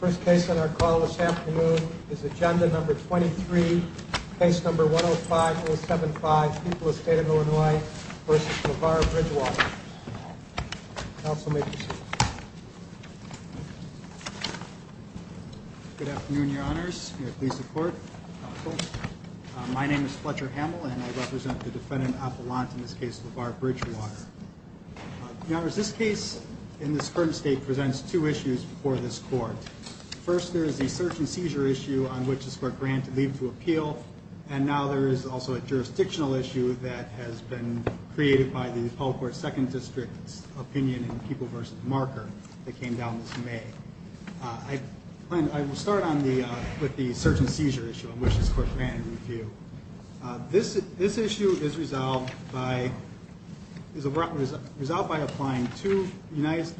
First case on our call this afternoon is Agenda No. 23, Case No. 105-075, People of the State of Illinois v. LeVar Bridgewater. Counsel may proceed. Good afternoon, Your Honors. May it please the Court. Counsel, my name is Fletcher Hamill and I represent the defendant Appelant in this case, LeVar Bridgewater. Your Honors, this case in this current state presents two issues before this Court. First, there is the search and seizure issue on which this Court granted leave to appeal. And now there is also a jurisdictional issue that has been created by the Apollo Court Second District's opinion in People v. Marker that came down this May. I will start with the search and seizure issue on which this Court granted leave to appeal. This issue is resolved by applying two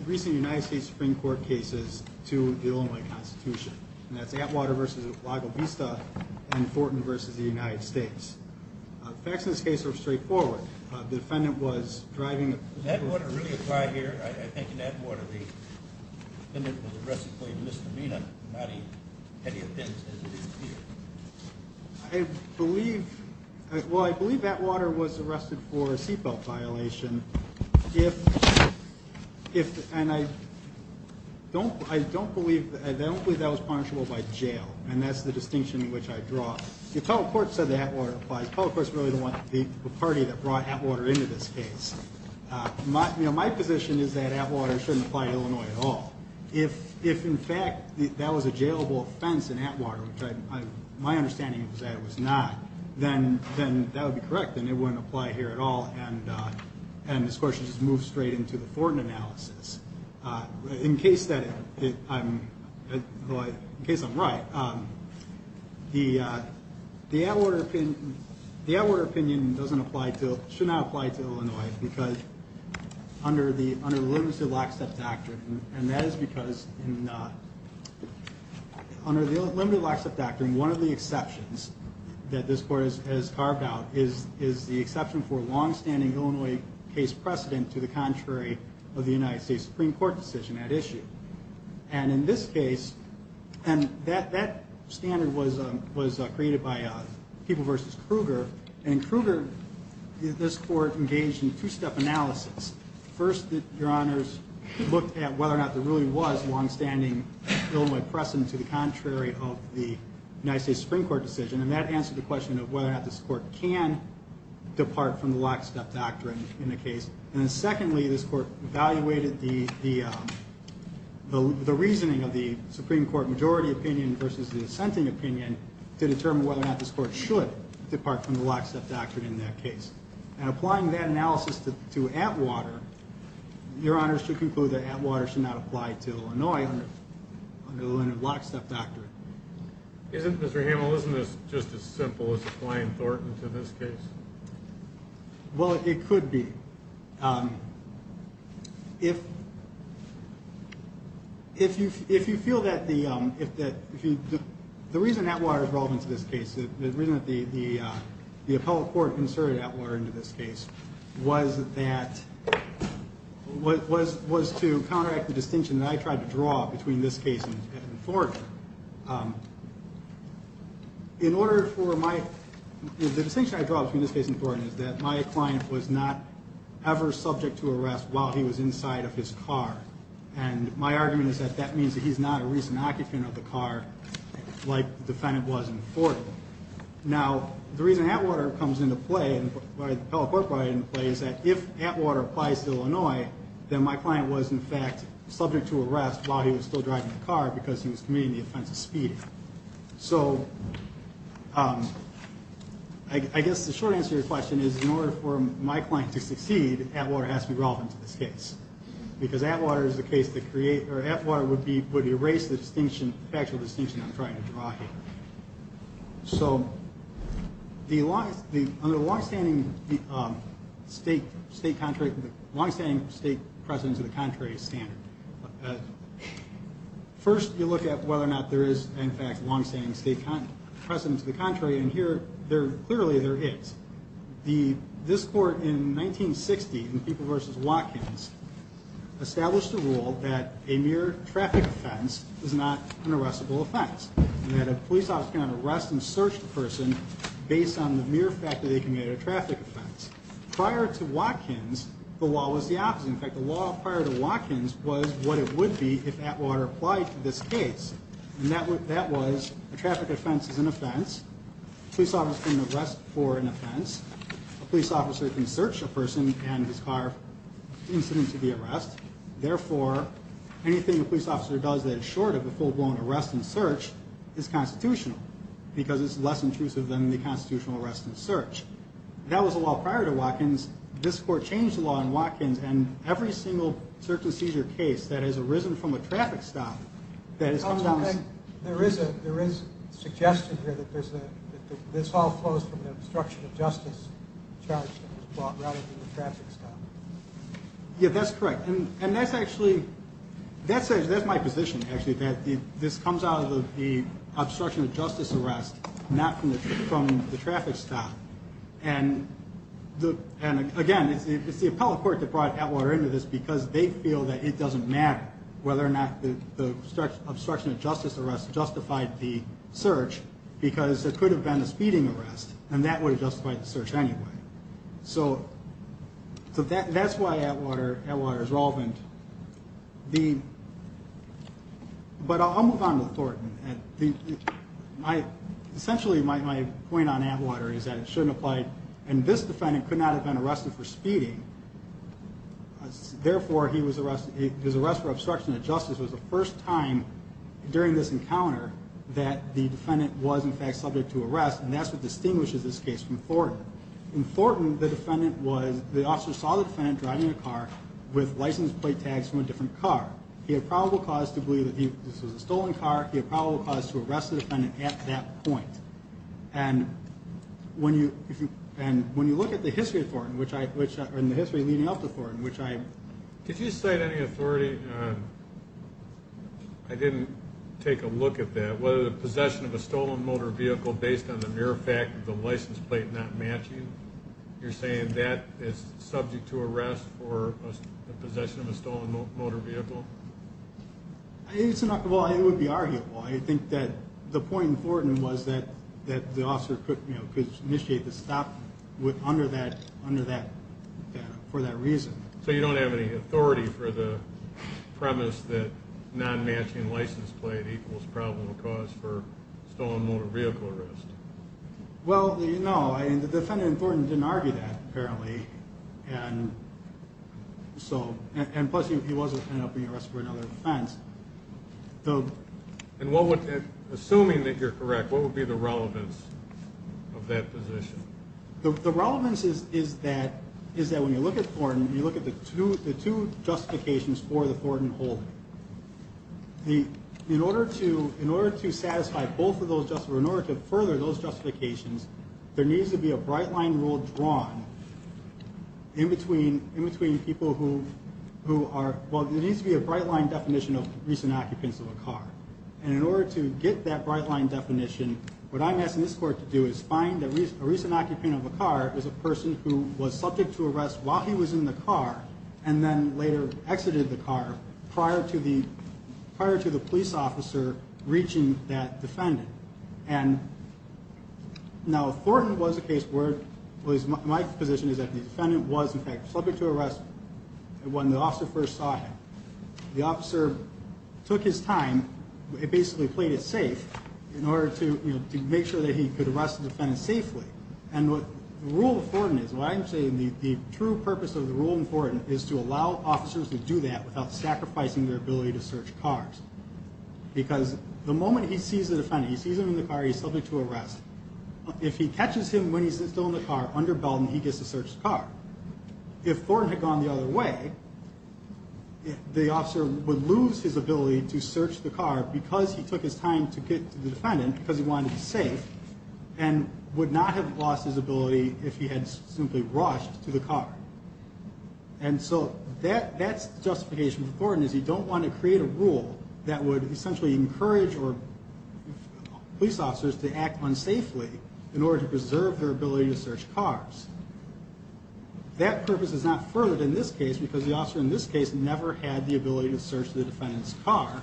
recent United States Supreme Court cases to the Illinois Constitution. And that's Atwater v. Lago Vista and Thornton v. the United States. The facts in this case are straightforward. The defendant was driving... Did Atwater really apply here? I think in Atwater the defendant was arrested for a misdemeanor, not any offense as it is here. I believe... well, I believe Atwater was arrested for a seatbelt violation. If... and I don't believe that was punishable by jail, and that's the distinction which I draw. The Apollo Court said that Atwater applies. Apollo Court is really the party that brought Atwater into this case. My position is that Atwater shouldn't apply to Illinois at all. If in fact that was a jailable offense in Atwater, which my understanding is that it was not, then that would be correct and it wouldn't apply here at all. And this question just moves straight into the Thornton analysis. In case that I'm... well, in case I'm right, the Atwater opinion doesn't apply to... should not apply to Illinois because under the Limited Lockstep Doctrine, and that is because under the Limited Lockstep Doctrine, one of the exceptions that this Court has carved out is the exception for a longstanding Illinois case precedent to the contrary of the United States Supreme Court decision at issue. And in this case... and that standard was created by People v. Kruger, and Kruger... this Court engaged in two-step analysis. First, Your Honors, looked at whether or not there really was a longstanding Illinois precedent to the contrary of the United States Supreme Court decision, and that answered the question of whether or not this Court can depart from the Lockstep Doctrine in the case. And then secondly, this Court evaluated the reasoning of the Supreme Court majority opinion versus the assenting opinion to determine whether or not this Court should depart from the Lockstep Doctrine in that case. And applying that analysis to Atwater, Your Honors should conclude that Atwater should not apply to Illinois under the Limited Lockstep Doctrine. Isn't, Mr. Hamill, isn't this just as simple as applying Thornton to this case? Well, it could be. If you feel that the reason Atwater is relevant to this case, the reason that the appellate court inserted Atwater into this case was to counteract the distinction that I tried to draw between this case and Thornton. In order for my... the distinction I draw between this case and Thornton is that my client was not ever subject to arrest while he was inside of his car, and my argument is that that means that he's not a recent occupant of the car like the defendant was in Thornton. Now, the reason Atwater comes into play and the appellate court brought it into play is that if Atwater applies to Illinois, then my client was in fact subject to arrest while he was still driving the car because he was committing the offense of speeding. So, I guess the short answer to your question is in order for my client to succeed, Atwater has to be relevant to this case because Atwater is the case that create... or Atwater would be... would erase the distinction, factual distinction I'm trying to draw here. So, the long... under the long-standing state... state contrary... long-standing state precedent to the contrary standard, first you look at whether or not there is in fact long-standing state precedent to the contrary, and here there clearly there is. The... this court in 1960 in People v. Watkins established a rule that a mere traffic offense is not an arrestable offense, and that a police officer cannot arrest and search the person based on the mere fact that they committed a traffic offense. Prior to Watkins, the law was the opposite. In fact, the law prior to Watkins was what it would be if Atwater applied to this case, and that would... that was a traffic offense is an offense, a police officer can arrest for an offense, a police officer can search a person and his car incident to be arrest, therefore anything a police officer does that is short of a full-blown arrest and search is constitutional because it's less intrusive than the constitutional arrest and search. That was the law prior to Watkins. This court changed the law in Watkins, and every single circumcisor case that has arisen from a traffic stop that has come down... There is a... there is a suggestion here that there's a... that this all flows from the obstruction of justice charge that was brought rather than the traffic stop. Yeah, that's correct, and that's actually... that's my position, actually, that this comes out of the obstruction of justice arrest, not from the traffic stop, and again, it's the appellate court that brought Atwater into this because they feel that it doesn't matter whether or not the obstruction of justice arrest justified the search because there could have been a speeding arrest, and that would have justified the search anyway. So that's why Atwater is relevant. But I'll move on to Thornton. Essentially, my point on Atwater is that it shouldn't apply, and this defendant could not have been arrested for speeding, therefore his arrest for obstruction of justice was the first time during this encounter that the defendant was in fact subject to arrest, and that's what distinguishes this case from Thornton. In Thornton, the defendant was... the officer saw the defendant driving a car with license plate tags from a different car. He had probable cause to believe that this was a stolen car. He had probable cause to arrest the defendant at that point, and when you... and when you look at the history of Thornton, which I... in the history leading up to Thornton, which I... Did you cite any authority? I didn't take a look at that. Whether the possession of a stolen motor vehicle based on the mere fact of the license plate not matching, you're saying that is subject to arrest for possession of a stolen motor vehicle? It's not... well, it would be arguable. I think that the point in Thornton was that the officer could initiate the stop under that... for that reason. So you don't have any authority for the premise that non-matching license plate equals probable cause for stolen motor vehicle arrest? Well, no. I mean, the defendant in Thornton didn't argue that, apparently, and so... and plus, he wasn't ended up being arrested for another offense. And what would... assuming that you're correct, what would be the relevance of that position? The relevance is that when you look at Thornton, you look at the two justifications for the Thornton holding. In order to satisfy both of those just... or in order to further those justifications, there needs to be a bright line rule drawn in between people who are... Well, there needs to be a bright line definition of recent occupants of a car. And in order to get that bright line definition, what I'm asking this court to do is find a recent occupant of a car as a person who was subject to arrest while he was in the car and then later exited the car prior to the police officer reaching that defendant. And now, Thornton was a case where... my position is that the defendant was, in fact, subject to arrest when the officer first saw him. The officer took his time, basically played it safe, in order to make sure that he could arrest the defendant safely. And what the rule of Thornton is, what I'm saying, the true purpose of the rule in Thornton is to allow officers to do that without sacrificing their ability to search cars. Because the moment he sees the defendant, he sees him in the car, he's subject to arrest. If he catches him when he's still in the car, underbellum, he gets to search the car. If Thornton had gone the other way, the officer would lose his ability to search the car because he took his time to get to the defendant because he wanted to be safe and would not have lost his ability if he had simply rushed to the car. And so that's the justification for Thornton, is he don't want to create a rule that would essentially encourage police officers to act unsafely in order to preserve their ability to search cars. That purpose is not furthered in this case because the officer in this case never had the ability to search the defendant's car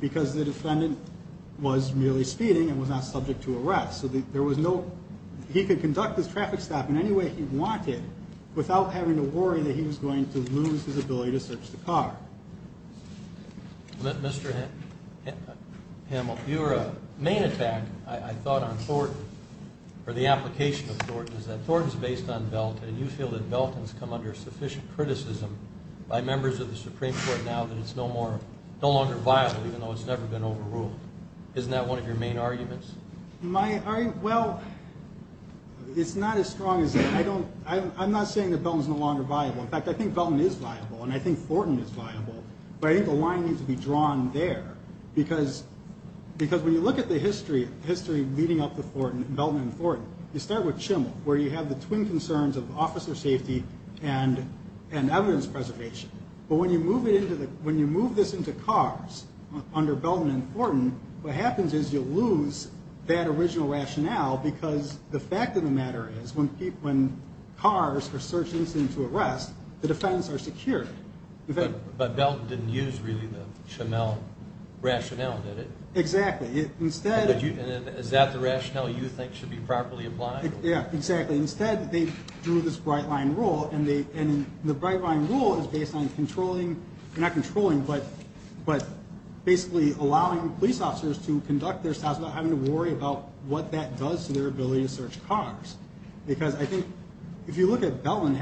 because the defendant was merely speeding and was not subject to arrest. So there was no, he could conduct his traffic stop in any way he wanted without having to worry that he was going to lose his ability to search the car. Mr. Hamill, your main attack, I thought, on Thornton or the application of Thornton is that Thornton is based on Belton and you feel that Belton's come under sufficient criticism by members of the Supreme Court now that it's no longer viable even though it's never been overruled. Isn't that one of your main arguments? My argument, well, it's not as strong as that. I'm not saying that Belton's no longer viable. In fact, I think Belton is viable and I think Thornton is viable. But I think the line needs to be drawn there because when you look at the history leading up to Thornton, Belton and Thornton, you start with Chimmel where you have the twin concerns of officer safety and evidence preservation. But when you move this into cars under Belton and Thornton, what happens is you lose that original rationale because the fact of the matter is that when cars are searched and sent into arrest, the defendants are secure. But Belton didn't use really the Chimmel rationale, did it? Exactly. Is that the rationale you think should be properly applied? Yeah, exactly. Instead, they drew this bright line rule and the bright line rule is based on controlling, not controlling, but basically allowing police officers to conduct themselves without having to worry about what that does to their ability to search cars. Because I think if you look at Belton,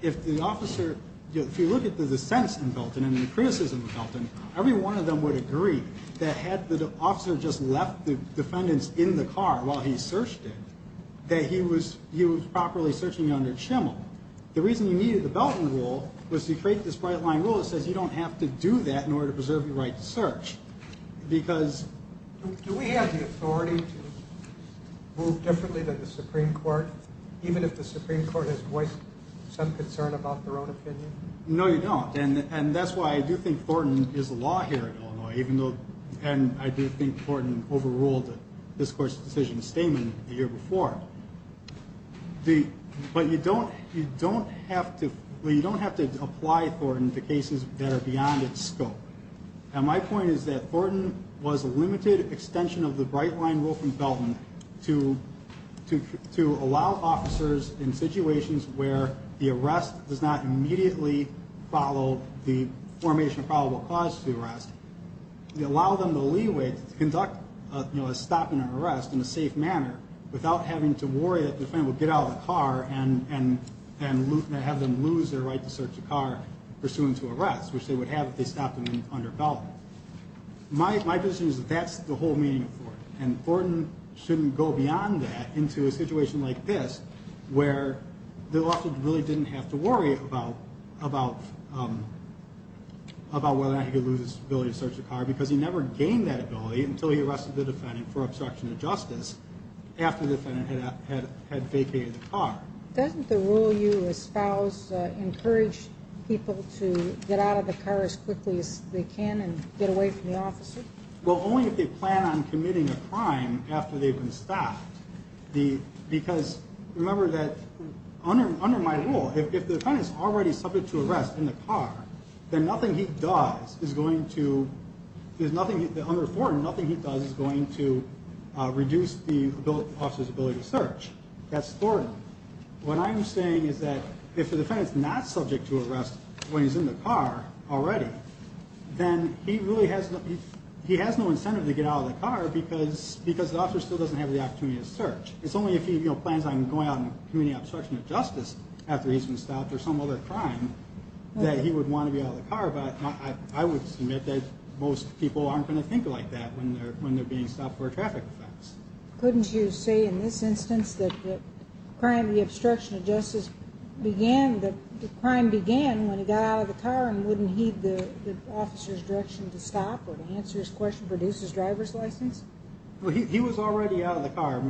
if the officer, if you look at the dissents in Belton and the criticism of Belton, every one of them would agree that had the officer just left the defendants in the car while he searched it, that he was properly searching under Chimmel. The reason you needed the Belton rule was to create this bright line rule that says you don't have to do that in order to preserve your right to search. Do we have the authority to move differently than the Supreme Court, even if the Supreme Court has voiced some concern about their own opinion? No, you don't. And that's why I do think Thornton is the law here at Illinois, and I do think Thornton overruled this Court's decision statement the year before. But you don't have to apply Thornton to cases that are beyond its scope. And my point is that Thornton was a limited extension of the bright line rule from Belton to allow officers in situations where the arrest does not immediately follow the formation of probable cause to the arrest, to allow them the leeway to conduct a stop in an arrest in a safe manner without having to worry that the defendant would get out of the car and have them lose their right to search a car pursuant to arrest, which they would have if they stopped them under Belton. My position is that that's the whole meaning of Thornton. And Thornton shouldn't go beyond that into a situation like this, where the officer really didn't have to worry about whether or not he could lose his ability to search a car because he never gained that ability until he arrested the defendant for obstruction of justice after the defendant had vacated the car. Doesn't the rule you espoused encourage people to get out of the car as quickly as they can and get away from the officer? Well, only if they plan on committing a crime after they've been stopped. Because remember that under my rule, if the defendant is already subject to arrest in the car, then under Thornton, nothing he does is going to reduce the officer's ability to search. That's Thornton. What I'm saying is that if the defendant's not subject to arrest when he's in the car already, then he really has no incentive to get out of the car because the officer still doesn't have the opportunity to search. It's only if he plans on going out and committing obstruction of justice after he's been stopped or some other crime that he would want to be out of the car. But I would submit that most people aren't going to think like that when they're being stopped for a traffic offense. Couldn't you say in this instance that the crime of the obstruction of justice began when he got out of the car and wouldn't heed the officer's direction to stop or to answer his question to reduce his driver's license? Well, he was already out of the car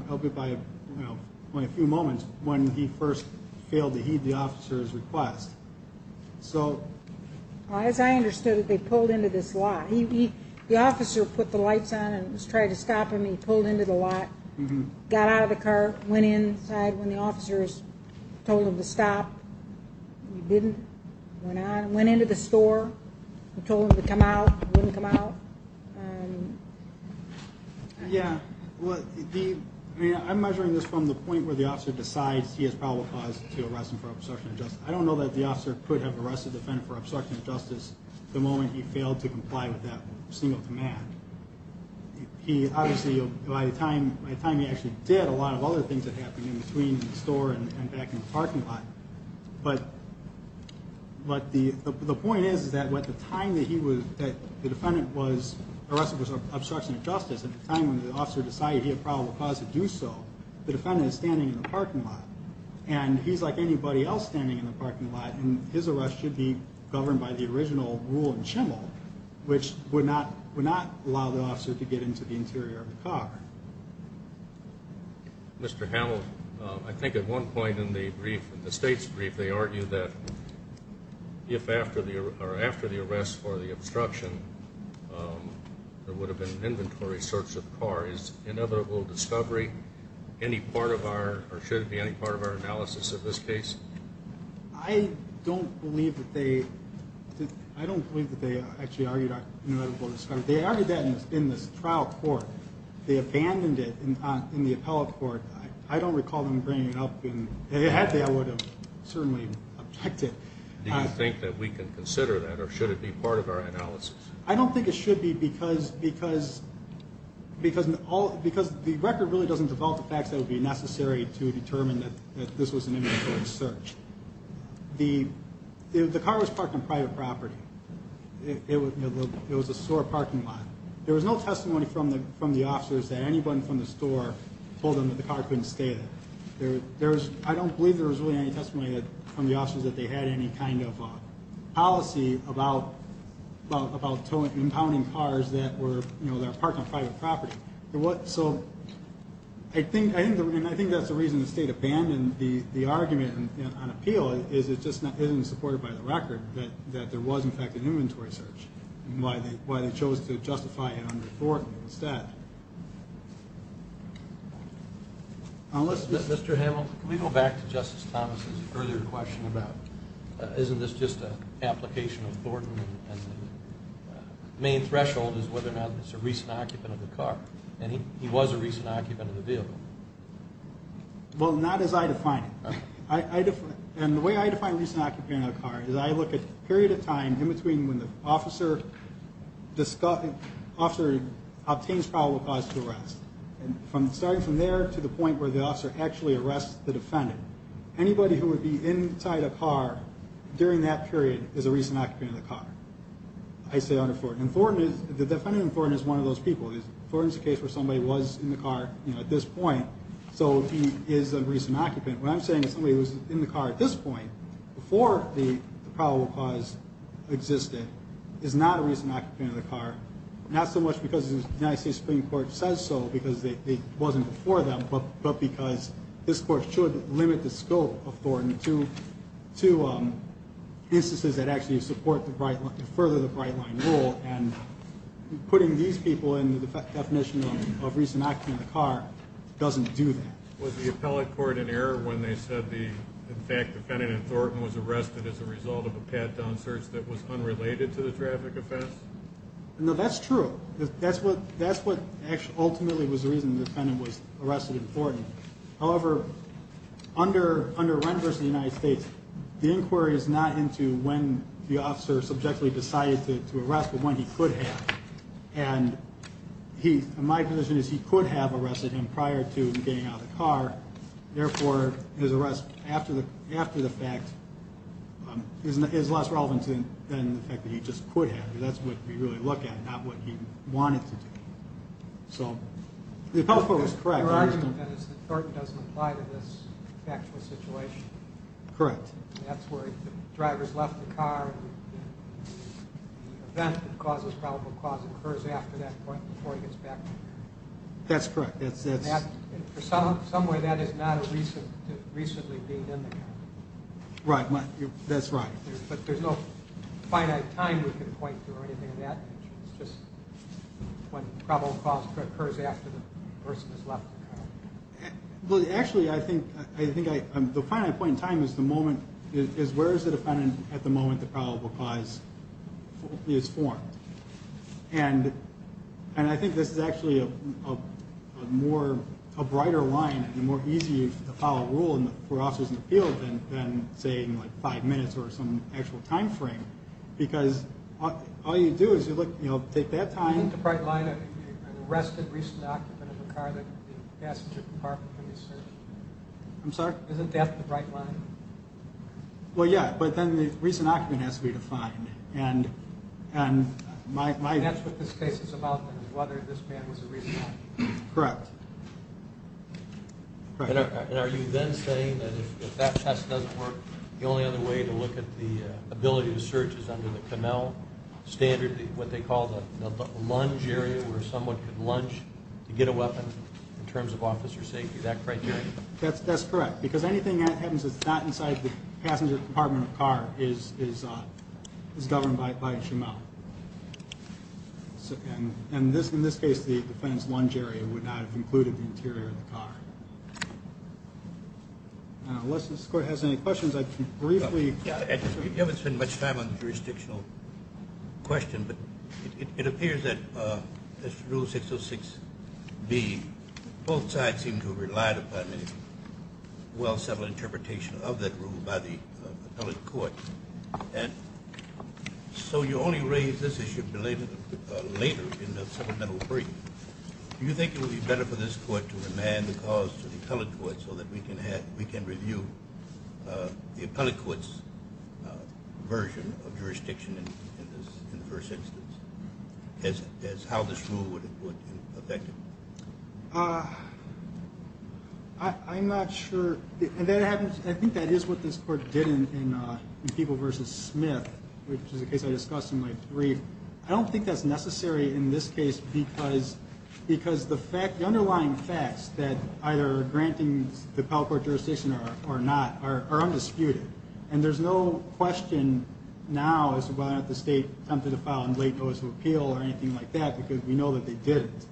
only a few moments when he first failed to heed the officer's request. As I understood it, they pulled into this lot. The officer put the lights on and was trying to stop him. He pulled into the lot, got out of the car, went inside when the officers told him to stop. He didn't. Went out and went into the store and told him to come out. He wouldn't come out. Yeah. I'm measuring this from the point where the officer decides he has probable cause to arrest him for obstruction of justice. I don't know that the officer could have arrested the defendant for obstruction of justice the moment he failed to comply with that single command. He obviously, by the time he actually did, a lot of other things had happened in between the store and back in the parking lot. But the point is that at the time that the defendant was arrested for obstruction of justice, at the time when the officer decided he had probable cause to do so, the defendant is standing in the parking lot. And he's like anybody else standing in the parking lot, and his arrest should be governed by the original rule in Chimel, which would not allow the officer to get into the interior of the car. Mr. Hamill, I think at one point in the brief, in the state's brief, they argue that if after the arrest for the obstruction there would have been an inventory search of cars, that there was inevitable discovery, any part of our, or should it be any part of our analysis of this case? I don't believe that they actually argued inevitable discovery. They argued that in this trial court. They abandoned it in the appellate court. I don't recall them bringing it up. Had they, I would have certainly objected. Do you think that we can consider that, or should it be part of our analysis? I don't think it should be because the record really doesn't develop the facts that would be necessary to determine that this was an inventory search. The car was parked on private property. It was a store parking lot. There was no testimony from the officers that anyone from the store told them that the car couldn't stay there. I don't believe there was really any testimony from the officers that they had any kind of policy about impounding cars that are parked on private property. So I think that's the reason the state abandoned the argument on appeal, is it just isn't supported by the record that there was in fact an inventory search, and why they chose to justify it unlawfully instead. Mr. Hamill, can we go back to Justice Thomas' earlier question about isn't this just an application of Thornton, and the main threshold is whether or not it's a recent occupant of the car, and he was a recent occupant of the vehicle. Well, not as I define it. And the way I define recent occupant of the car is I look at a period of time in between when the officer obtains probable cause to arrest, and starting from there to the point where the officer actually arrests the defendant, anybody who would be inside a car during that period is a recent occupant of the car. I say under Thornton. The defendant in Thornton is one of those people. Thornton's a case where somebody was in the car at this point, so he is a recent occupant. What I'm saying is somebody who was in the car at this point, before the probable cause existed, is not a recent occupant of the car, not so much because the United States Supreme Court says so because it wasn't before that, but because this Court should limit the scope of Thornton to instances that actually support the right, further the bright-line rule, and putting these people in the definition of recent occupant of the car doesn't do that. Was the appellate court in error when they said the, in fact, defendant in Thornton was arrested as a result of a pat-down search that was unrelated to the traffic offense? No, that's true. That's what ultimately was the reason the defendant was arrested in Thornton. However, under Rent v. United States, the inquiry is not into when the officer subjectively decided to arrest, but when he could have. And my position is he could have arrested him prior to him getting out of the car. Therefore, his arrest after the fact is less relevant than the fact that he just could have. That's what we really look at, not what he wanted to do. So the appellate court was correct. Your argument, then, is that Thornton doesn't apply to this factual situation. Correct. That's where the driver's left the car. The event that causes probable cause occurs after that point before he gets back. That's correct. In some way, that is not a recently being in the car. Right. That's right. But there's no finite time we can point to or anything of that nature. It's just when probable cause occurs after the person has left the car. Actually, I think the finite point in time is where is the defendant at the moment the probable cause is formed. And I think this is actually a brighter line and a more easy appellate rule for officers in the field than, say, in five minutes or some actual time frame. Because all you do is you take that time. Isn't the bright line an arrested recent occupant of a car that the passenger department can be searching? I'm sorry? Isn't that the bright line? Well, yeah, but then the recent occupant has to be defined. That's what this case is about, then, is whether this man was a recent occupant. Correct. Are you then saying that if that test doesn't work, the only other way to look at the ability to search is under the Connell standard, what they call the lunge area where someone could lunge to get a weapon in terms of officer safety, that criteria? That's correct, because anything that happens that's not inside the passenger department of a car is governed by a SHML. And in this case, the defendant's lunge area would not have included the interior of the car. Unless this Court has any questions, I can briefly. You haven't spent much time on the jurisdictional question, but it appears that Rule 606B, both sides seem to have relied upon a well-settled interpretation of that rule by the appellate court. And so you only raised this issue later in the supplemental brief. Do you think it would be better for this Court to remand the cause to the appellate court so that we can review the appellate court's version of jurisdiction in the first instance, as how this rule would affect it? I'm not sure. I think that is what this Court did in Peeble v. Smith, which is a case I discussed in my brief. I don't think that's necessary in this case because the underlying facts, that either granting the appellate court jurisdiction or not, are undisputed. And there's no question now as to whether or not the State attempted to file a late notice of appeal or anything like that, because we know that they didn't.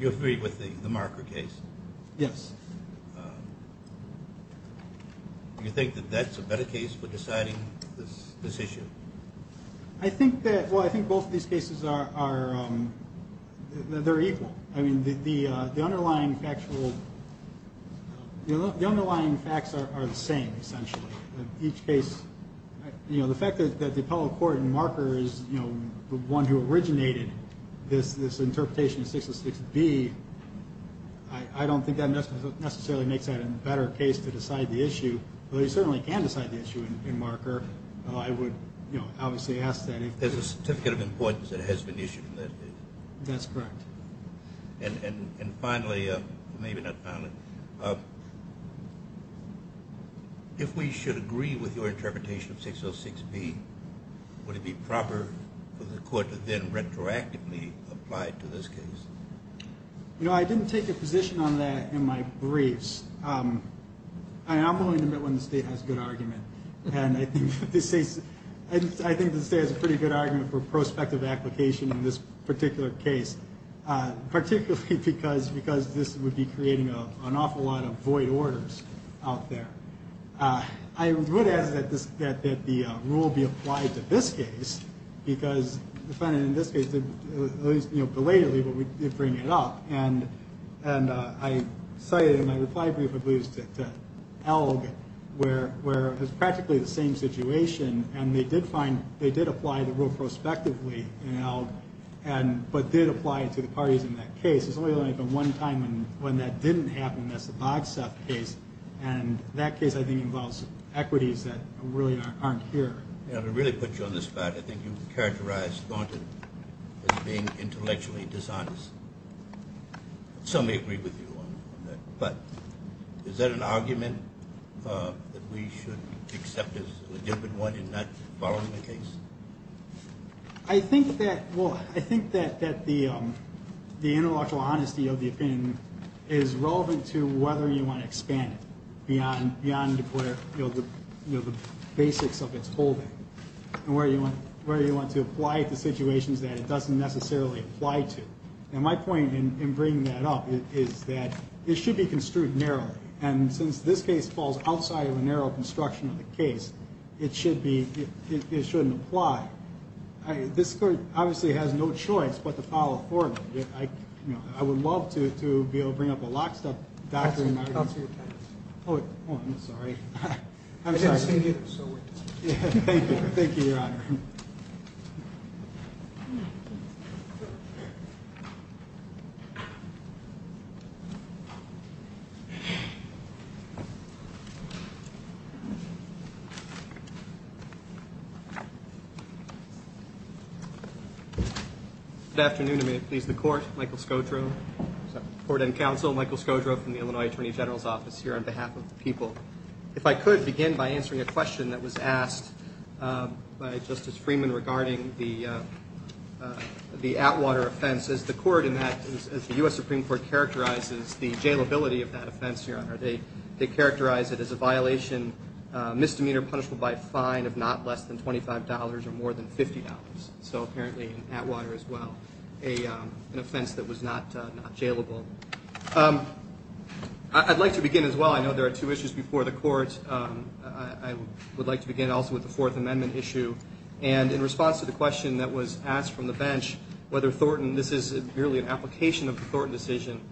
You agree with the Marker case? Yes. Do you think that that's a better case for deciding this issue? Well, I think both of these cases are equal. I mean, the underlying facts are the same, essentially. The fact that the appellate court in Marker is the one who originated this interpretation of 606B, I don't think that necessarily makes that a better case to decide the issue, although you certainly can decide the issue in Marker. I would obviously ask that if there's a certificate of importance that has been issued in that case. That's correct. And finally, maybe not finally, if we should agree with your interpretation of 606B, would it be proper for the court to then retroactively apply it to this case? You know, I didn't take a position on that in my briefs. I'm willing to admit when the State has a good argument, and I think the State has a pretty good argument for prospective application in this particular case, particularly because this would be creating an awful lot of void orders out there. I would ask that the rule be applied to this case, because the defendant in this case, at least belatedly, would bring it up. And I cited in my reply brief, I believe it was to Elg, where it was practically the same situation, and they did apply the rule prospectively in Elg, but did apply it to the parties in that case. There's only been one time when that didn't happen, and that's the Bogstaff case, and that case, I think, involves equities that really aren't here. Now, to really put you on the spot, I think you've characterized Thornton as being intellectually dishonest. Some may agree with you on that, but is that an argument that we should accept as a legitimate one in not following the case? I think that, well, I think that the intellectual honesty of the opinion is relevant to whether you want to expand it beyond the basics of its holding and where you want to apply it to situations that it doesn't necessarily apply to. And my point in bringing that up is that it should be construed narrowly, and since this case falls outside of a narrow construction of the case, it shouldn't apply. This court obviously has no choice but to follow Thornton. I would love to be able to bring up a lockstep document. I'll see what time it is. Oh, I'm sorry. I didn't see you either, so we're done. Thank you. Thank you, Your Honor. Thank you. Good afternoon, and may it please the Court. Michael Scodro, Court and Counsel. Michael Scodro from the Illinois Attorney General's Office here on behalf of the people. If I could begin by answering a question that was asked by Justice Freeman regarding the Atwater offense. As the U.S. Supreme Court characterizes the jailability of that offense, Your Honor, they characterize it as a violation, misdemeanor, punishable by a fine of not less than $25 or more than $50. So apparently in Atwater as well, an offense that was not jailable. I'd like to begin as well. I know there are two issues before the Court. I would like to begin also with the Fourth Amendment issue. And in response to the question that was asked from the bench, whether Thornton, this is merely an application of the Thornton decision,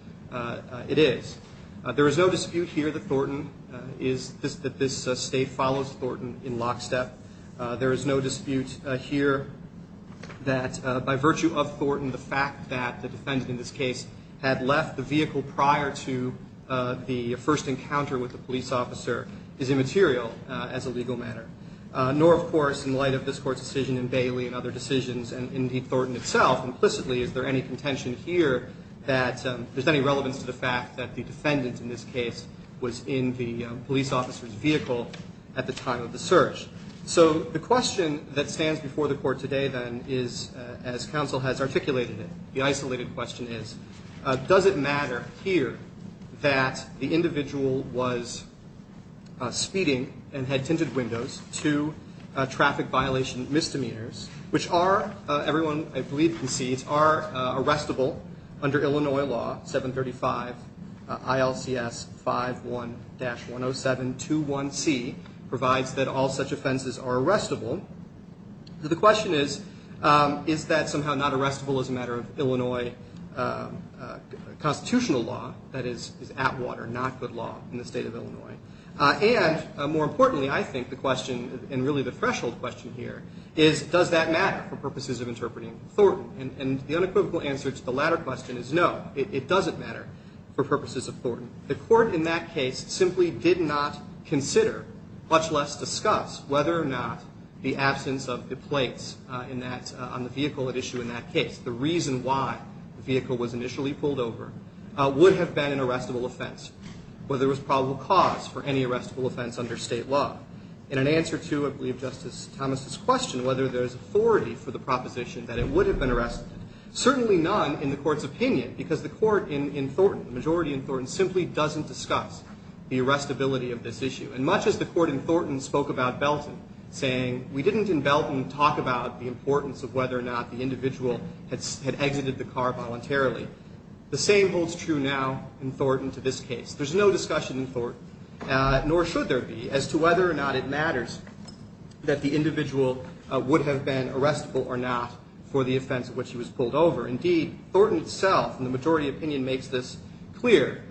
it is. There is no dispute here that Thornton, that this State follows Thornton in lockstep. There is no dispute here that by virtue of Thornton, the fact that the defendant in this case had left the vehicle prior to the first encounter with the police officer is immaterial as a legal matter. Nor, of course, in light of this Court's decision in Bailey and other decisions and indeed Thornton itself, implicitly, is there any contention here that there's any relevance to the fact that the defendant in this case was in the police officer's vehicle at the time of the search. So the question that stands before the Court today then is, as counsel has articulated it, the isolated question is, does it matter here that the individual was speeding and had tinted windows to traffic violation misdemeanors, which are, everyone, I believe can see, are arrestable under Illinois law, 735 ILCS 51-10721C, provides that all such offenses are arrestable. The question is, is that somehow not arrestable as a matter of Illinois constitutional law, that is at water, not good law in the State of Illinois? And more importantly, I think the question, and really the threshold question here, is does that matter for purposes of interpreting Thornton? And the unequivocal answer to the latter question is no, it doesn't matter for purposes of Thornton. The Court in that case simply did not consider, much less discuss, whether or not the absence of the plates on the vehicle at issue in that case, the reason why the vehicle was initially pulled over, would have been an arrestable offense, where there was probable cause for any arrestable offense under State law. And an answer to, I believe, Justice Thomas's question, whether there's authority for the proposition that it would have been arrested, certainly none in the Court's opinion, because the Court in Thornton, the majority in Thornton, simply doesn't discuss the arrestability of this issue. And much as the Court in Thornton spoke about Belton, saying, we didn't in Belton talk about the importance of whether or not the individual had exited the car voluntarily, the same holds true now in Thornton to this case. There's no discussion in Thornton, nor should there be, as to whether or not it matters that the individual would have been arrestable or not for the offense at which he was pulled over. Indeed, Thornton itself, in the majority opinion, makes this clear.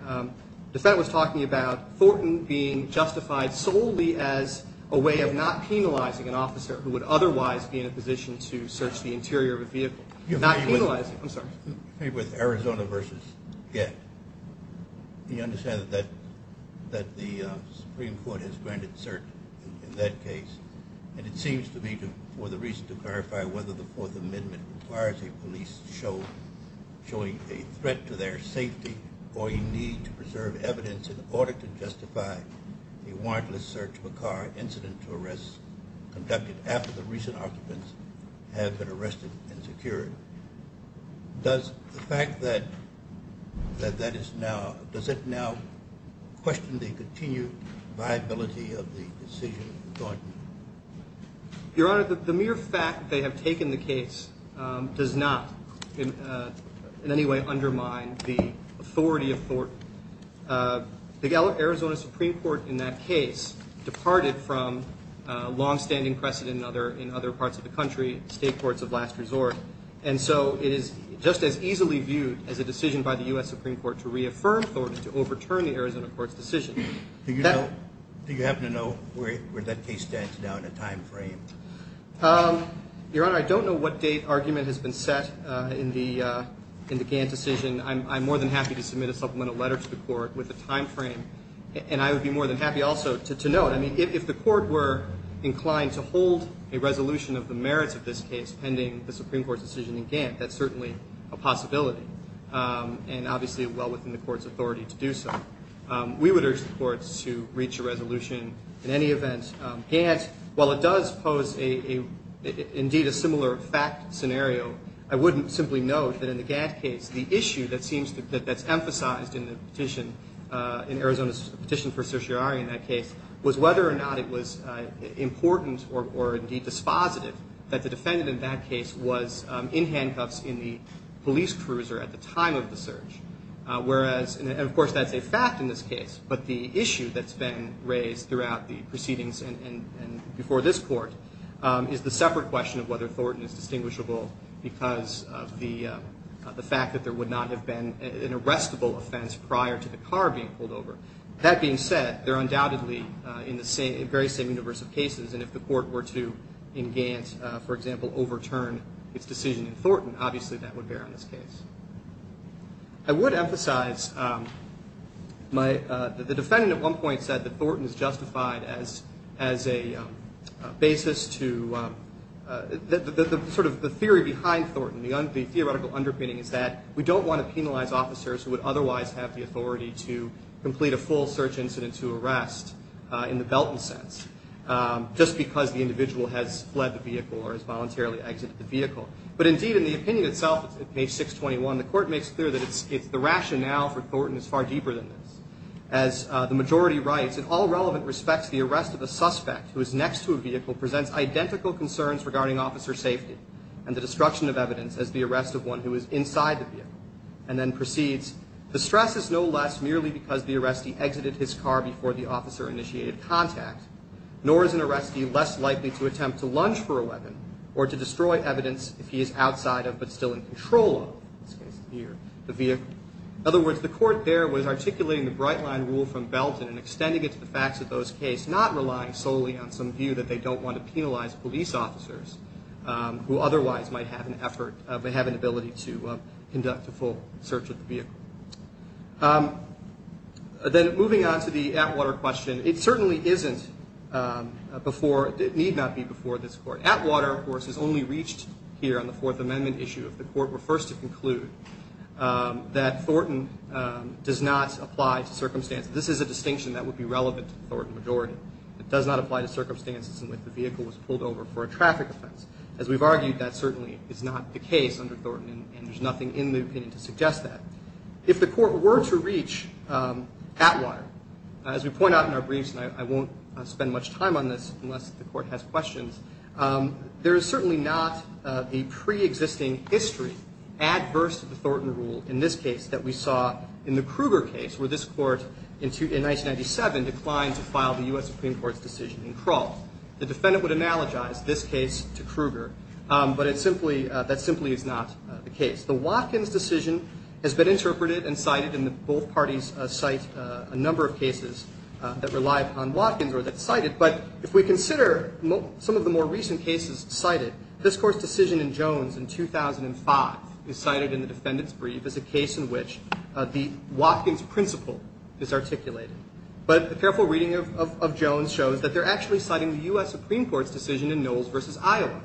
DeFette was talking about Thornton being justified solely as a way of not penalizing an officer who would otherwise be in a position to search the interior of a vehicle. Not penalizing, I'm sorry. With Arizona v. Gett, you understand that the Supreme Court has granted cert in that case, and it seems to me for the reason to clarify whether the Fourth Amendment requires a police showing a threat to their safety or a need to preserve evidence in order to justify a warrantless search of a car incident to arrest conducted after the recent occupants have been arrested and secured. Does the fact that that is now, does it now question the continued viability of the decision in Thornton? Your Honor, the mere fact that they have taken the case does not in any way undermine the authority of Thornton. The Arizona Supreme Court in that case departed from longstanding precedent in other parts of the country, state courts of last resort. And so it is just as easily viewed as a decision by the U.S. Supreme Court to reaffirm Thornton, to overturn the Arizona court's decision. Do you happen to know where that case stands now in a time frame? Your Honor, I don't know what date argument has been set in the Gantt decision. I'm more than happy to submit a supplemental letter to the court with a time frame, and I would be more than happy also to note, I mean, if the court were inclined to hold a resolution of the merits of this case pending the Supreme Court's decision in Gantt, that's certainly a possibility, and obviously well within the court's authority to do so. We would urge the courts to reach a resolution in any event. Gantt, while it does pose indeed a similar fact scenario, I wouldn't simply note that in the Gantt case the issue that seems to, that's emphasized in the petition, in Arizona's petition for certiorari in that case, was whether or not it was important or indeed dispositive that the defendant in that case was in handcuffs in the police cruiser at the time of the search. Whereas, and of course that's a fact in this case, but the issue that's been raised throughout the proceedings and before this court, is the separate question of whether Thornton is distinguishable because of the fact that there would not have been an arrestable offense prior to the car being pulled over. That being said, they're undoubtedly in the very same universe of cases, and if the court were to, in Gantt, for example, overturn its decision in Thornton, obviously that would bear on this case. I would emphasize, the defendant at one point said that Thornton is justified as a basis to, sort of the theory behind Thornton, the theoretical underpinning, is that we don't want to penalize officers who would otherwise have the authority to complete a full search incident to arrest in the Belton sense, just because the individual has fled the vehicle or has voluntarily exited the vehicle. But indeed, in the opinion itself at page 621, the court makes clear that the rationale for Thornton is far deeper than this. As the majority writes, in all relevant respects, the arrest of a suspect who is next to a vehicle presents identical concerns regarding officer safety and the destruction of evidence as the arrest of one who is inside the vehicle. And then proceeds, the stress is no less merely because the arrestee exited his car before the officer initiated contact, nor is an arrestee less likely to attempt to lunge for a weapon or to destroy evidence if he is outside of but still in control of, in this case here, the vehicle. In other words, the court there was articulating the bright line rule from Belton and extending it to the facts of those case, not relying solely on some view that they don't want to penalize police officers who otherwise might have an effort, might have an ability to conduct a full search of the vehicle. Then moving on to the Atwater question, it certainly isn't before, it need not be before this court. Atwater, of course, is only reached here on the Fourth Amendment issue if the court refers to conclude that Thornton does not apply to circumstances. This is a distinction that would be relevant to the Thornton majority. It does not apply to circumstances in which the vehicle was pulled over for a traffic offense. As we've argued, that certainly is not the case under Thornton and there's nothing in the opinion to suggest that. If the court were to reach Atwater, as we point out in our briefs, and I won't spend much time on this unless the court has questions, there is certainly not a preexisting history adverse to the Thornton rule in this case that we saw in the Kruger case where this court, in 1997, declined to file the U.S. Supreme Court's decision in Krull. The defendant would analogize this case to Kruger, but that simply is not the case. The Watkins decision has been interpreted and cited, and both parties cite a number of cases that rely upon Watkins or that cite it. But if we consider some of the more recent cases cited, this Court's decision in Jones in 2005 is cited in the defendant's brief as a case in which the Watkins principle is articulated. But a careful reading of Jones shows that they're actually citing the U.S. Supreme Court's decision in Knowles v. Iowa,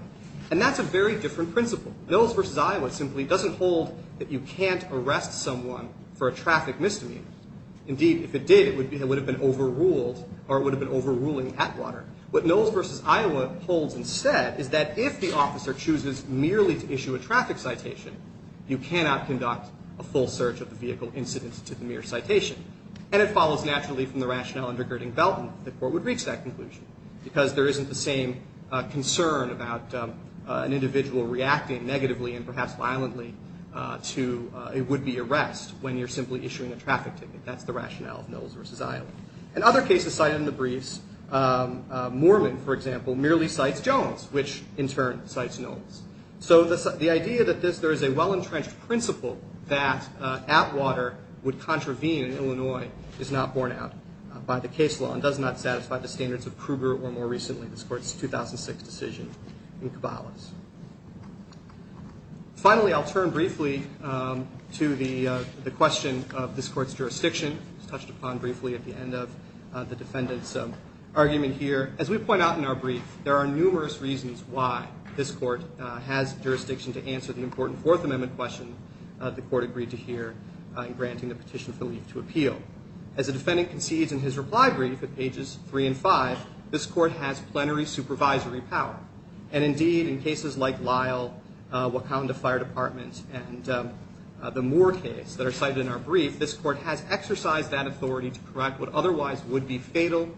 and that's a very different principle. Knowles v. Iowa simply doesn't hold that you can't arrest someone for a traffic misdemeanor. Indeed, if it did, it would have been overruled or it would have been overruling Atwater. What Knowles v. Iowa holds instead is that if the officer chooses merely to issue a traffic citation, you cannot conduct a full search of the vehicle incident to the mere citation. And it follows naturally from the rationale under Gerding-Belton that the Court would reach that conclusion because there isn't the same concern about an individual reacting negatively and perhaps violently to a would-be arrest when you're simply issuing a traffic ticket. That's the rationale of Knowles v. Iowa. In other cases cited in the briefs, Moorman, for example, merely cites Jones, which in turn cites Knowles. So the idea that there is a well-entrenched principle that Atwater would contravene in Illinois is not borne out by the case law and does not satisfy the standards of Kruger or, more recently, this Court's 2006 decision in Cabalas. Finally, I'll turn briefly to the question of this Court's jurisdiction. It was touched upon briefly at the end of the defendant's argument here. As we point out in our brief, there are numerous reasons why this Court has jurisdiction to answer the important Fourth Amendment question the Court agreed to hear in granting the petition for leave to appeal. As the defendant concedes in his reply brief at pages 3 and 5, this Court has plenary supervisory power. And, indeed, in cases like Lyle, Wakanda Fire Department, and the Moore case that are cited in our brief, this Court has exercised that authority to correct what otherwise would be fatal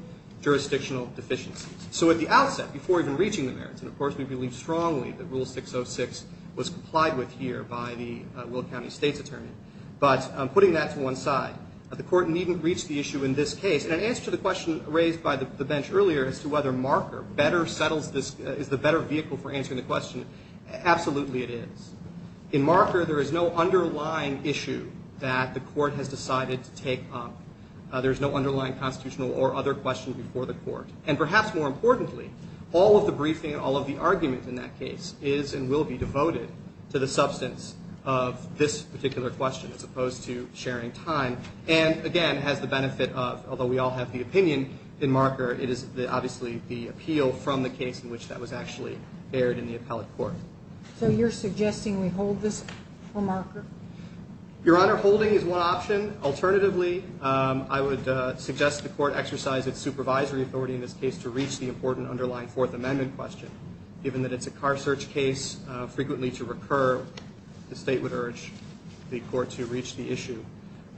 jurisdictional deficiencies. So at the outset, before even reaching the merits, and of course we believe strongly that Rule 606 was complied with here by the Willett County State's attorney, but putting that to one side, the Court needn't reach the issue in this case. And in answer to the question raised by the bench earlier as to whether Marker better settles this, is the better vehicle for answering the question, absolutely it is. In Marker, there is no underlying issue that the Court has decided to take up. There is no underlying constitutional or other question before the Court. And perhaps more importantly, all of the briefing and all of the argument in that case is and will be devoted to the substance of this particular question, as opposed to sharing time, and, again, has the benefit of, although we all have the opinion in Marker, it is obviously the appeal from the case in which that was actually aired in the appellate court. So you're suggesting we hold this for Marker? Your Honor, holding is one option. Alternatively, I would suggest the Court exercise its supervisory authority in this case to reach the important underlying Fourth Amendment question. Given that it's a car search case, frequently to recur, the State would urge the Court to reach the issue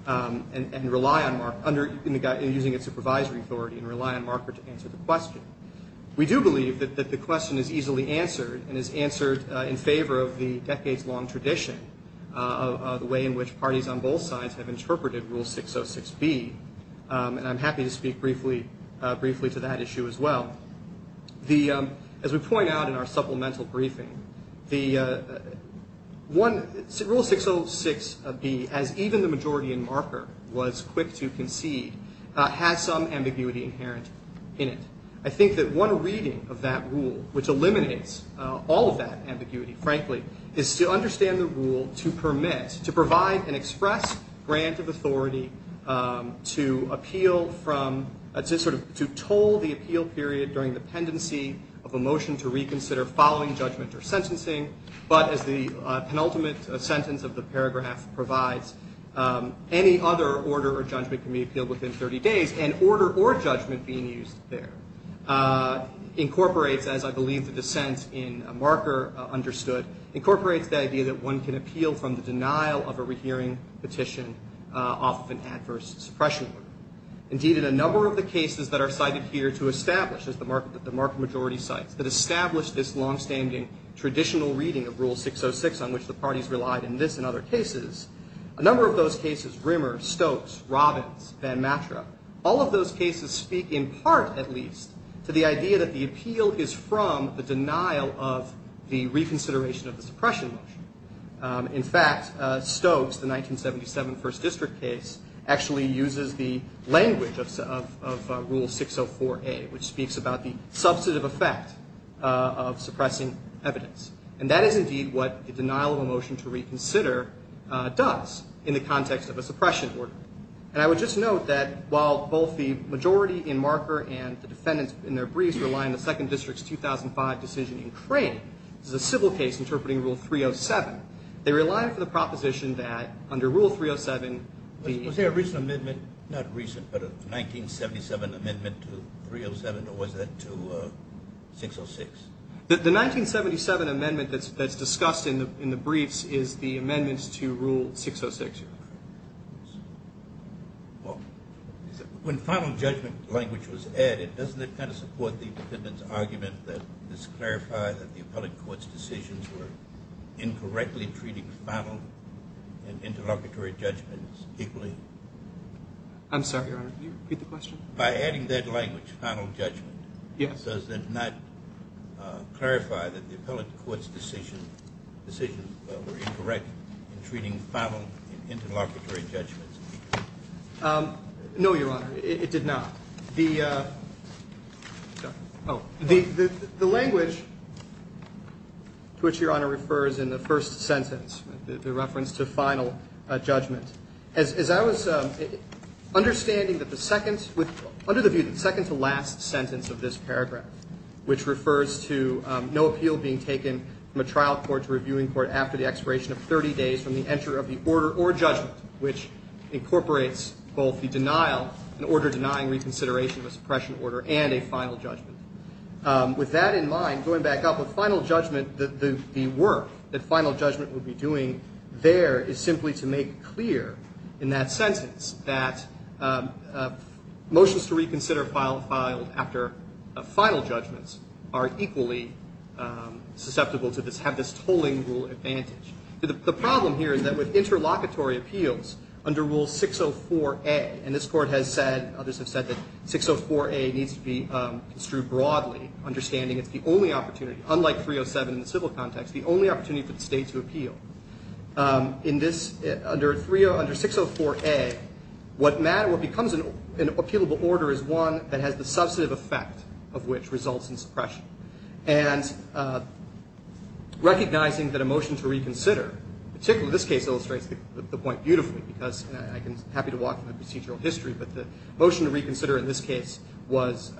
and rely on Marker, using its supervisory authority and rely on Marker to answer the question. We do believe that the question is easily answered and is answered in favor of the decades-long tradition of the way in which parties on both sides have interpreted Rule 606B, and I'm happy to speak briefly to that issue as well. As we point out in our supplemental briefing, Rule 606B, as even the majority in Marker was quick to concede, has some ambiguity inherent in it. I think that one reading of that rule, which eliminates all of that ambiguity, frankly, is to understand the rule to permit, to provide an express grant of authority to appeal from, to toll the appeal period during the pendency of a motion to reconsider following judgment or sentencing, but as the penultimate sentence of the paragraph provides, any other order or judgment can be appealed within 30 days, and order or judgment being used there incorporates, as I believe the dissent in Marker understood, incorporates the idea that one can appeal from the denial of a rehearing petition off of an adverse suppression order. Indeed, in a number of the cases that are cited here to establish, as the Marker majority cites, that establish this longstanding traditional reading of Rule 606, on which the parties relied in this and other cases, a number of those cases, Rimmer, Stokes, Robbins, Van Matra, all of those cases speak in part, at least, to the idea that the appeal is from the denial of the reconsideration of the suppression motion. In fact, Stokes, the 1977 First District case, actually uses the language of Rule 604A, which speaks about the substantive effect of suppressing evidence, and that is indeed what the denial of a motion to reconsider does, in the context of a suppression order. And I would just note that while both the majority in Marker and the defendants in their briefs rely on the Second District's 2005 decision in Crane, this is a civil case interpreting Rule 307, they rely on the proposition that under Rule 307 the- Was there a recent amendment, not recent, but a 1977 amendment to 307, or was that to 606? The 1977 amendment that's discussed in the briefs is the amendment to Rule 606. Well, when final judgment language was added, doesn't it kind of support the defendant's argument that this clarified that the appellate court's decisions were incorrectly treating final and interlocutory judgments equally? I'm sorry, Your Honor. Can you repeat the question? By adding that language, final judgment, does it not clarify that the appellate court's decisions were incorrect in treating final and interlocutory judgments equally? No, Your Honor, it did not. The language to which Your Honor refers in the first sentence, the reference to final judgment, as I was understanding that the second- I'm sorry, I'm not sure the second sentence should be the second. The third sentence is the third sentence of this paragraph, which refers to no appeal being taken from a trial court to a reviewing court after the expiration of 30 days from the entry of the order or judgment, which incorporates both the denial, an order denying reconsideration of a suppression order, and a final judgment. With that in mind, going back up, with final judgment, the work that final judgment would be doing there is simply to make clear, in that sentence, that motions to reconsider filed after final judgments are equally susceptible to this, have this tolling rule advantage. The problem here is that with interlocutory appeals, under Rule 604A, and this Court has said, others have said that 604A needs to be construed broadly, understanding it's the only opportunity, unlike 307 in the civil context, the only opportunity for the state to appeal. Under 604A, what becomes an appealable order is one that has the substantive effect of which results in suppression. And recognizing that a motion to reconsider, particularly this case illustrates the point beautifully, because I'm happy to walk through the procedural history, but the motion to reconsider in this case was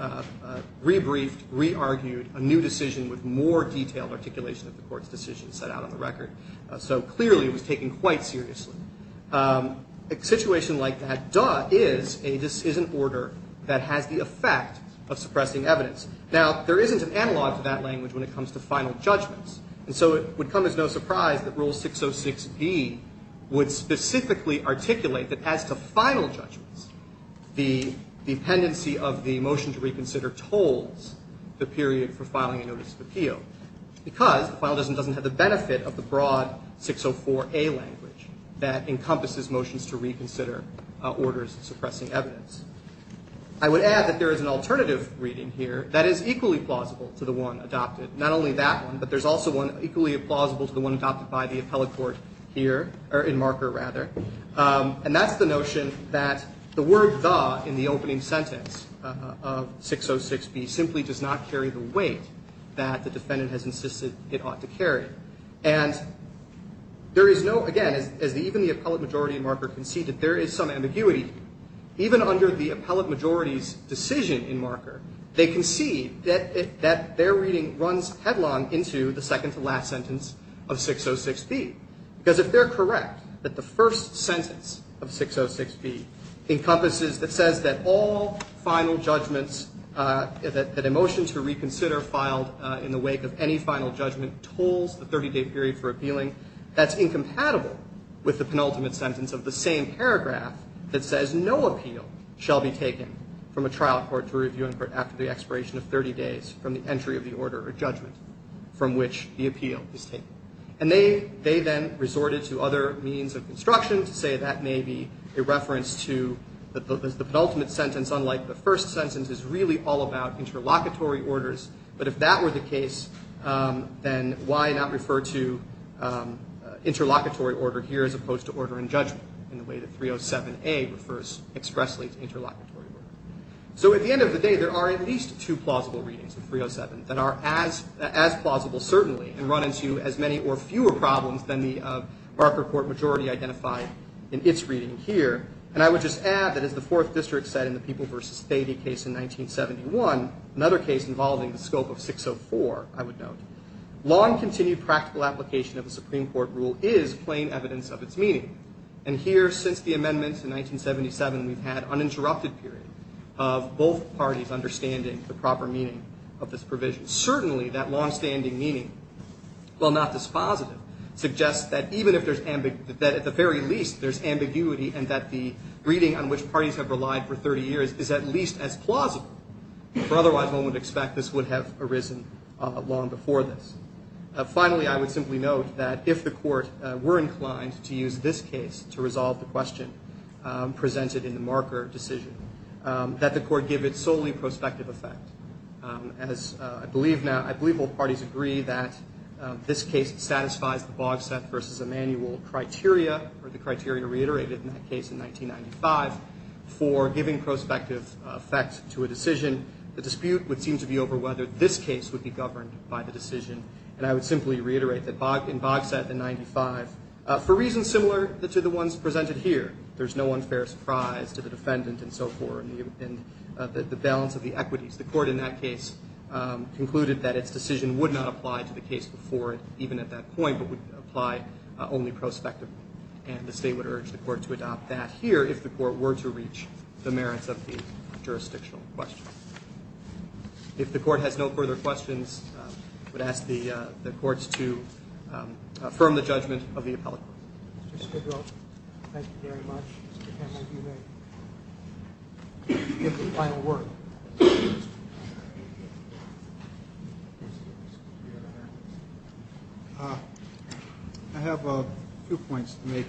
rebriefed, re-argued, a new decision with more detailed articulation of the Court's decision set out on the record. So clearly it was taken quite seriously. A situation like that, duh, is an order that has the effect of suppressing evidence. Now, there isn't an analog to that language when it comes to final judgments. And so it would come as no surprise that Rule 606B would specifically articulate that as to final judgments, the dependency of the motion to reconsider tolls the period for filing a notice of appeal, because the final judgment doesn't have the benefit of the broad 604A language that encompasses motions to reconsider orders suppressing evidence. I would add that there is an alternative reading here that is equally plausible to the one adopted. Not only that one, but there's also one equally plausible to the one adopted by the appellate majority in marker. And that's the notion that the word, duh, in the opening sentence of 606B simply does not carry the weight that the defendant has insisted it ought to carry. And there is no, again, even the appellate majority in marker can see that there is some ambiguity. Even under the appellate majority's decision in marker, they can see that their reading runs headlong into the second to last sentence of 606B. Because if they're correct that the first sentence of 606B encompasses, that says that all final judgments, that a motion to reconsider filed in the wake of any final judgment tolls the 30-day period for appealing, that's incompatible with the penultimate sentence of the same paragraph that says no appeal shall be taken from a trial court to review after the expiration of 30 days from the entry of the order or judgment from which the appeal is taken. And they, they then resorted to other means of construction to say that may be a reference to the penultimate sentence, unlike the first sentence is really all about interlocutory orders. But if that were the case, then why not refer to interlocutory order here as opposed to order and judgment in the way that 307A refers expressly to interlocutory order. So at the end of the day, there are at least two plausible readings of 307 that are as, as plausible certainly, and run into as many or fewer problems than the marker court majority identified in its reading here. And I would just add that as the Fourth District said in the People v. Thady case in 1971, another case involving the scope of 604, I would note, long continued practical application of the Supreme Court rule is plain evidence of its meaning. And here, since the amendments in 1977, we've had uninterrupted period of both parties understanding the proper meaning of this provision. Certainly, that longstanding meaning, while not dispositive, suggests that even if there's, that at the very least, there's ambiguity and that the reading on which parties have relied for 30 years is at least as plausible. For otherwise, one would expect this would have arisen long before this. Finally, I would simply note that if the court were inclined to use this case to resolve the question presented in the marker decision, that the court give it solely prospective effect. As I believe now, I believe both parties agree that this case satisfies the Bogset v. Emanuel criteria, or the criteria reiterated in that case in 1995, for giving prospective effect to a decision. The dispute would seem to be over whether this case would be governed by the decision. And I would simply reiterate that in Bogset in 95, for reasons similar to the ones presented here, there's no unfair surprise to the defendant and so forth, and the balance of the equities. The court in that case concluded that its decision would not apply to the case before it, even at that point, but would apply only prospectively. And the state would urge the court to adopt that here if the court were to reach the merits of the jurisdictional question. If the court has no further questions, I would ask the courts to affirm the judgment of the appellate court. Mr. Skidrow, thank you very much. Give the final word. I have a few points to make.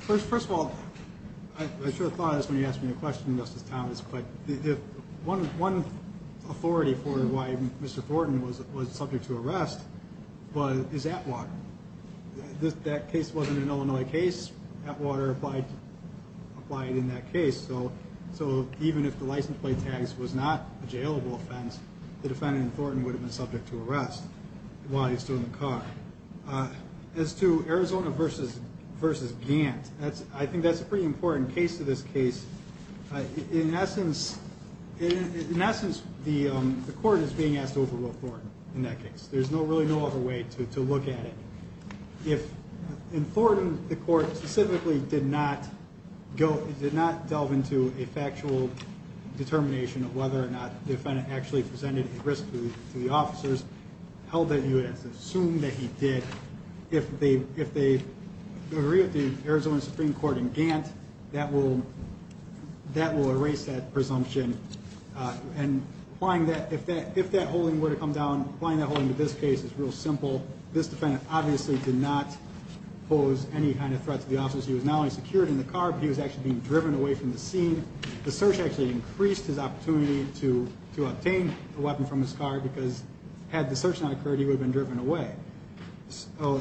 First of all, I should have thought of this when you asked me the question, Justice Thomas, but if one, one authority for why Mr. Thornton was, was subject to arrest, but is at water. This, that case wasn't an Illinois case at water applied, applied in that case. So, so even if the license plate tags was not a jailable offense, the defendant Thornton would have been subject to arrest while he's still in the car. As to Arizona versus versus Gant, that's, I think that's a pretty important case to this case. In essence, in essence, the, the court is being asked to overrule Thornton in that case. There's no, really no other way to look at it. If in Thornton, the court specifically did not go, it did not delve into a factual determination of whether or not the defendant actually presented a risk to the officers held that you would assume that he did. If they, if they agree with the Arizona Supreme court in Gant, that will, that will erase that presumption. And applying that, if that, if that holding were to come down, applying that holding to this case is real simple. This defendant obviously did not pose any kind of threat to the officers. He was not only secured in the car, but he was actually being driven away from the scene. The search actually increased his opportunity to, to obtain a weapon from his car because had the search not occurred, he would have been driven away. So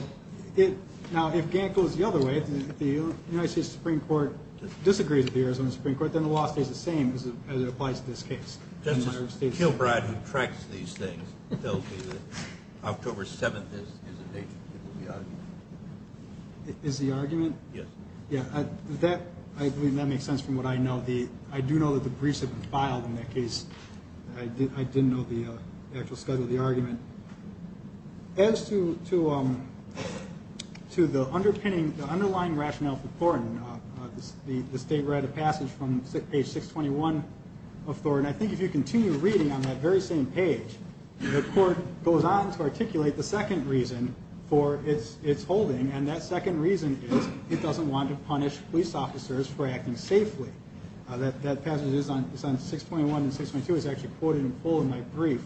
it now, if Gant goes the other way, the United States Supreme court disagrees with the Arizona Supreme court, then the law stays the same as it applies to this case. Gilbride who tracks these things tells me that October 7th is, is a date. Is the argument. Yes. Yeah. That, I believe that makes sense from what I know. The, I do know that the briefs have been filed in that case. I did, I didn't know the actual schedule of the argument as to, to, to the underpinning, the underlying rationale for Thornton, this, the state read a passage from page six 21 of Thornton. And I think if you continue reading on that very same page, the court goes on to articulate the second reason for it's, it's holding. And that second reason is it doesn't want to punish police officers for acting safely. That, that passage is on, it's on six 21 and six 22 is actually quoted in full in my brief.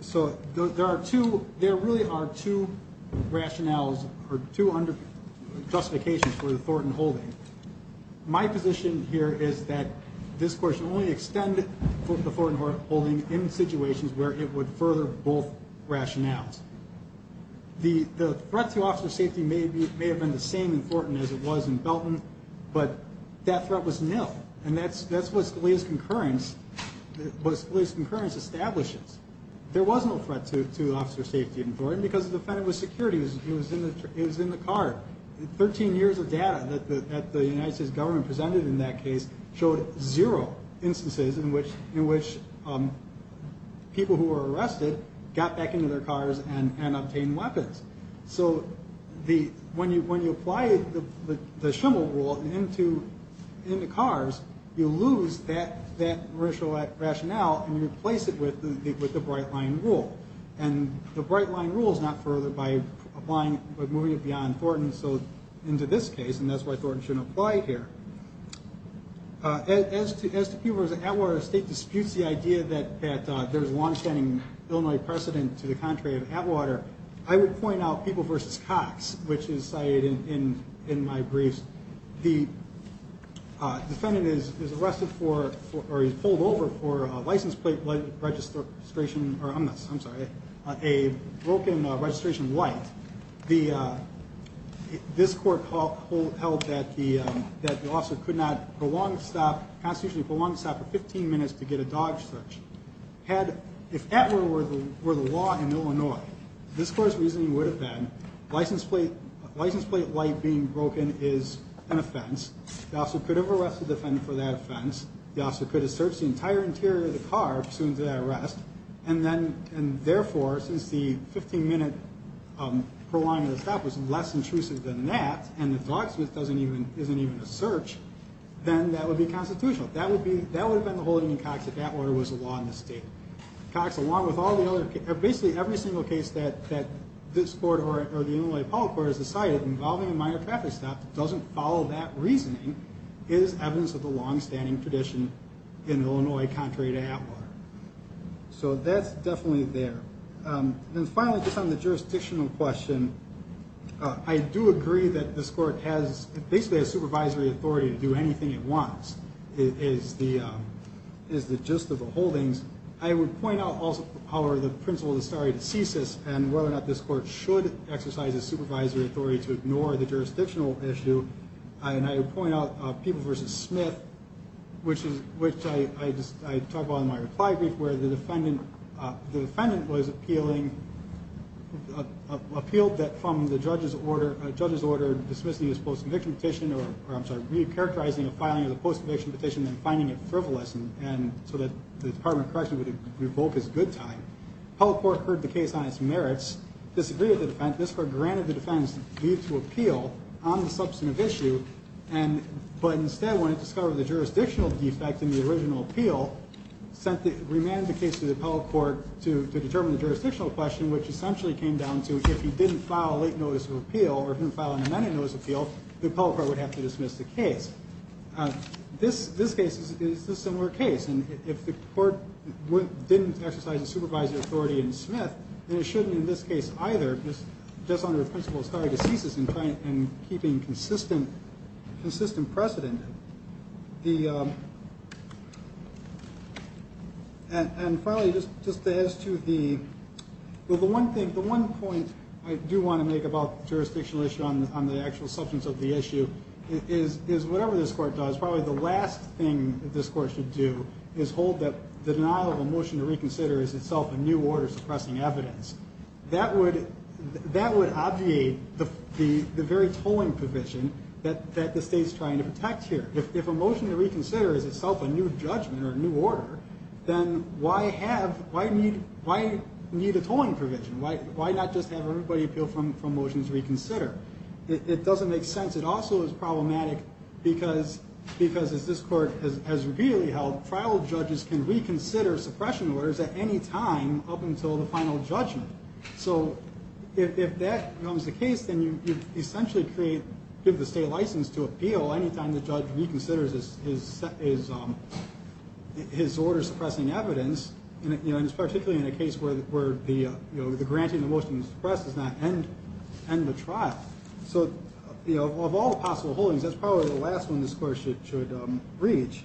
So there are two, there really are two rationales or 200 justifications for the Thornton holding. My position here is that this court should only extend the Thornton holding in situations where it would further both rationales. The, the threat to officer safety may be, may have been the same important as it was in Belton, but that threat was nil. And that's, that's what Scalia's concurrence was, at least concurrence establishes. There was no threat to, to officer safety in Thornton because the defendant was security was, it was in the, it was in the car 13 years of data. That the, that the United States government presented in that case showed zero instances in which, in which people who were arrested got back into their cars and, and obtained weapons. So the, when you, when you apply the, the shimmel rule into, into cars, you lose that, that racial rationale and you replace it with the, with the bright line rule. And the bright line rules not further by applying, but moving it beyond Thornton. So into this case, and that's why Thornton shouldn't apply here. As to, as to people at Atwater state disputes, the idea that, that there's a longstanding Illinois precedent to the contrary of Atwater. I would point out people versus Cox, which is cited in, in, in my briefs. The defendant is, is arrested for, for, or he's pulled over for a license plate registration or I'm not, I'm sorry, a broken registration white. The, this court called hold held that the, that the officer could not belong to stop constitutionally belongs to stop for 15 minutes to get a dog search head. If Atwater were the, were the law in Illinois, this court's reasoning would have been license plate, license plate light being broken is an offense. The officer could have arrested the defendant for that offense. The officer could have searched the entire interior of the car. Soon to that arrest. And then, and therefore, since the 15 minute per line of the stop was less intrusive than that. And the dog Smith doesn't even, isn't even a search, then that would be constitutional. That would be, that would have been the whole union Cox at that order was a law in the state Cox along with all the other, basically every single case that, that this board or the only public where is the site of involving a minor traffic stop. It doesn't follow that reasoning is evidence of the longstanding tradition in Illinois, contrary to Atwater. So that's definitely there. And finally, just on the jurisdictional question, I do agree that this court has basically a supervisory authority to do anything it wants. It is the, is the gist of the holdings. I would point out also power, the principle of the story to ceases and whether or not this court should exercise a supervisory authority to ignore the jurisdictional issue. I, and I would point out people versus Smith, which is, which I, I just, I talked about in my reply brief where the defendant, the defendant was appealing, uh, appealed that from the judge's order, a judge's order dismissing this post-conviction petition, or I'm sorry, recharacterizing a filing of the post-conviction petition and finding it frivolous. And so that the department correction would revoke his good time. How the court heard the case on its merits, disagreed with the defense. This court granted the defense need to appeal on the substantive issue. And, but instead when it discovered the jurisdictional defect in the original appeal, sent the remand the case to the appellate court to, to determine the jurisdictional question, which essentially came down to, if he didn't file a late notice of appeal or didn't file an amended notice appeal, the appellate court would have to dismiss the case. Uh, this, this case is the similar case. And if the court didn't exercise the supervisory authority and Smith, and it shouldn't in this case either, just just under the principle of story to ceases and trying and keeping consistent, consistent precedent. The, and, and probably just, just as to the, well, the one thing, the one point I do want to make about jurisdictional issue on the, on the actual substance of the issue is, is whatever this court does, probably the last thing that this court should do is hold that the denial of a motion to reconsider is itself a new order suppressing evidence that would, that would obviate the, the, the very tolling provision that, that the state's trying to protect here. If, if a motion to reconsider is itself a new judgment or a new order, then why have, why need, why need a tolling provision? Why, why not just have everybody appeal from, from motions reconsider? It doesn't make sense. It also is problematic because, because as this court has, has repeatedly held trial judges can reconsider suppression orders at any time up until the final judgment. So if, if that becomes the case, then you essentially create, give the state license to appeal. Anytime the judge reconsiders his, his, his, his order suppressing evidence, you know, and it's particularly in a case where, where the, you know, the granting of the motions suppresses that and, and the trial. So, you know, of all the possible holdings, that's probably the last one this court should, should reach.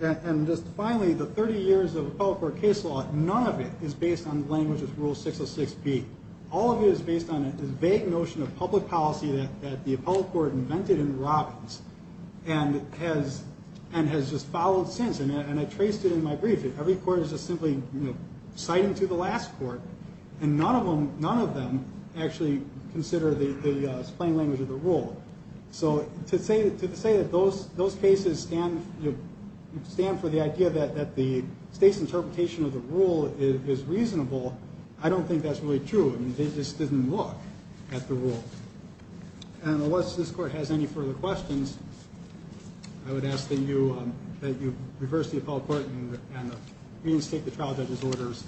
And just finally, the 30 years of public court case law, none of it is based on language with rule 606 P. All of it is based on a vague notion of public policy that, that the appellate court invented in Robbins and has, and has just followed since. And I, and I traced it in my brief that every court is just simply citing to the last court and none of them, none of them actually consider the, the slang language of the rule. So to say, to say that those, those cases stand, stand for the idea that, that the state's interpretation of the rule is reasonable. I don't think that's really true. I mean, they just didn't look at the rule and unless this court has any further questions, I would ask that you, that you reverse the appellate court and reinstate the trial judge's orders.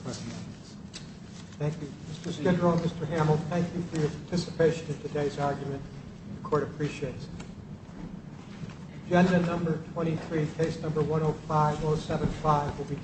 Thank you. Mr. Skidrow, Mr. Hamill, thank you for your participation in today's argument. The court appreciates it. Agenda number 23, case number 105-075 will be.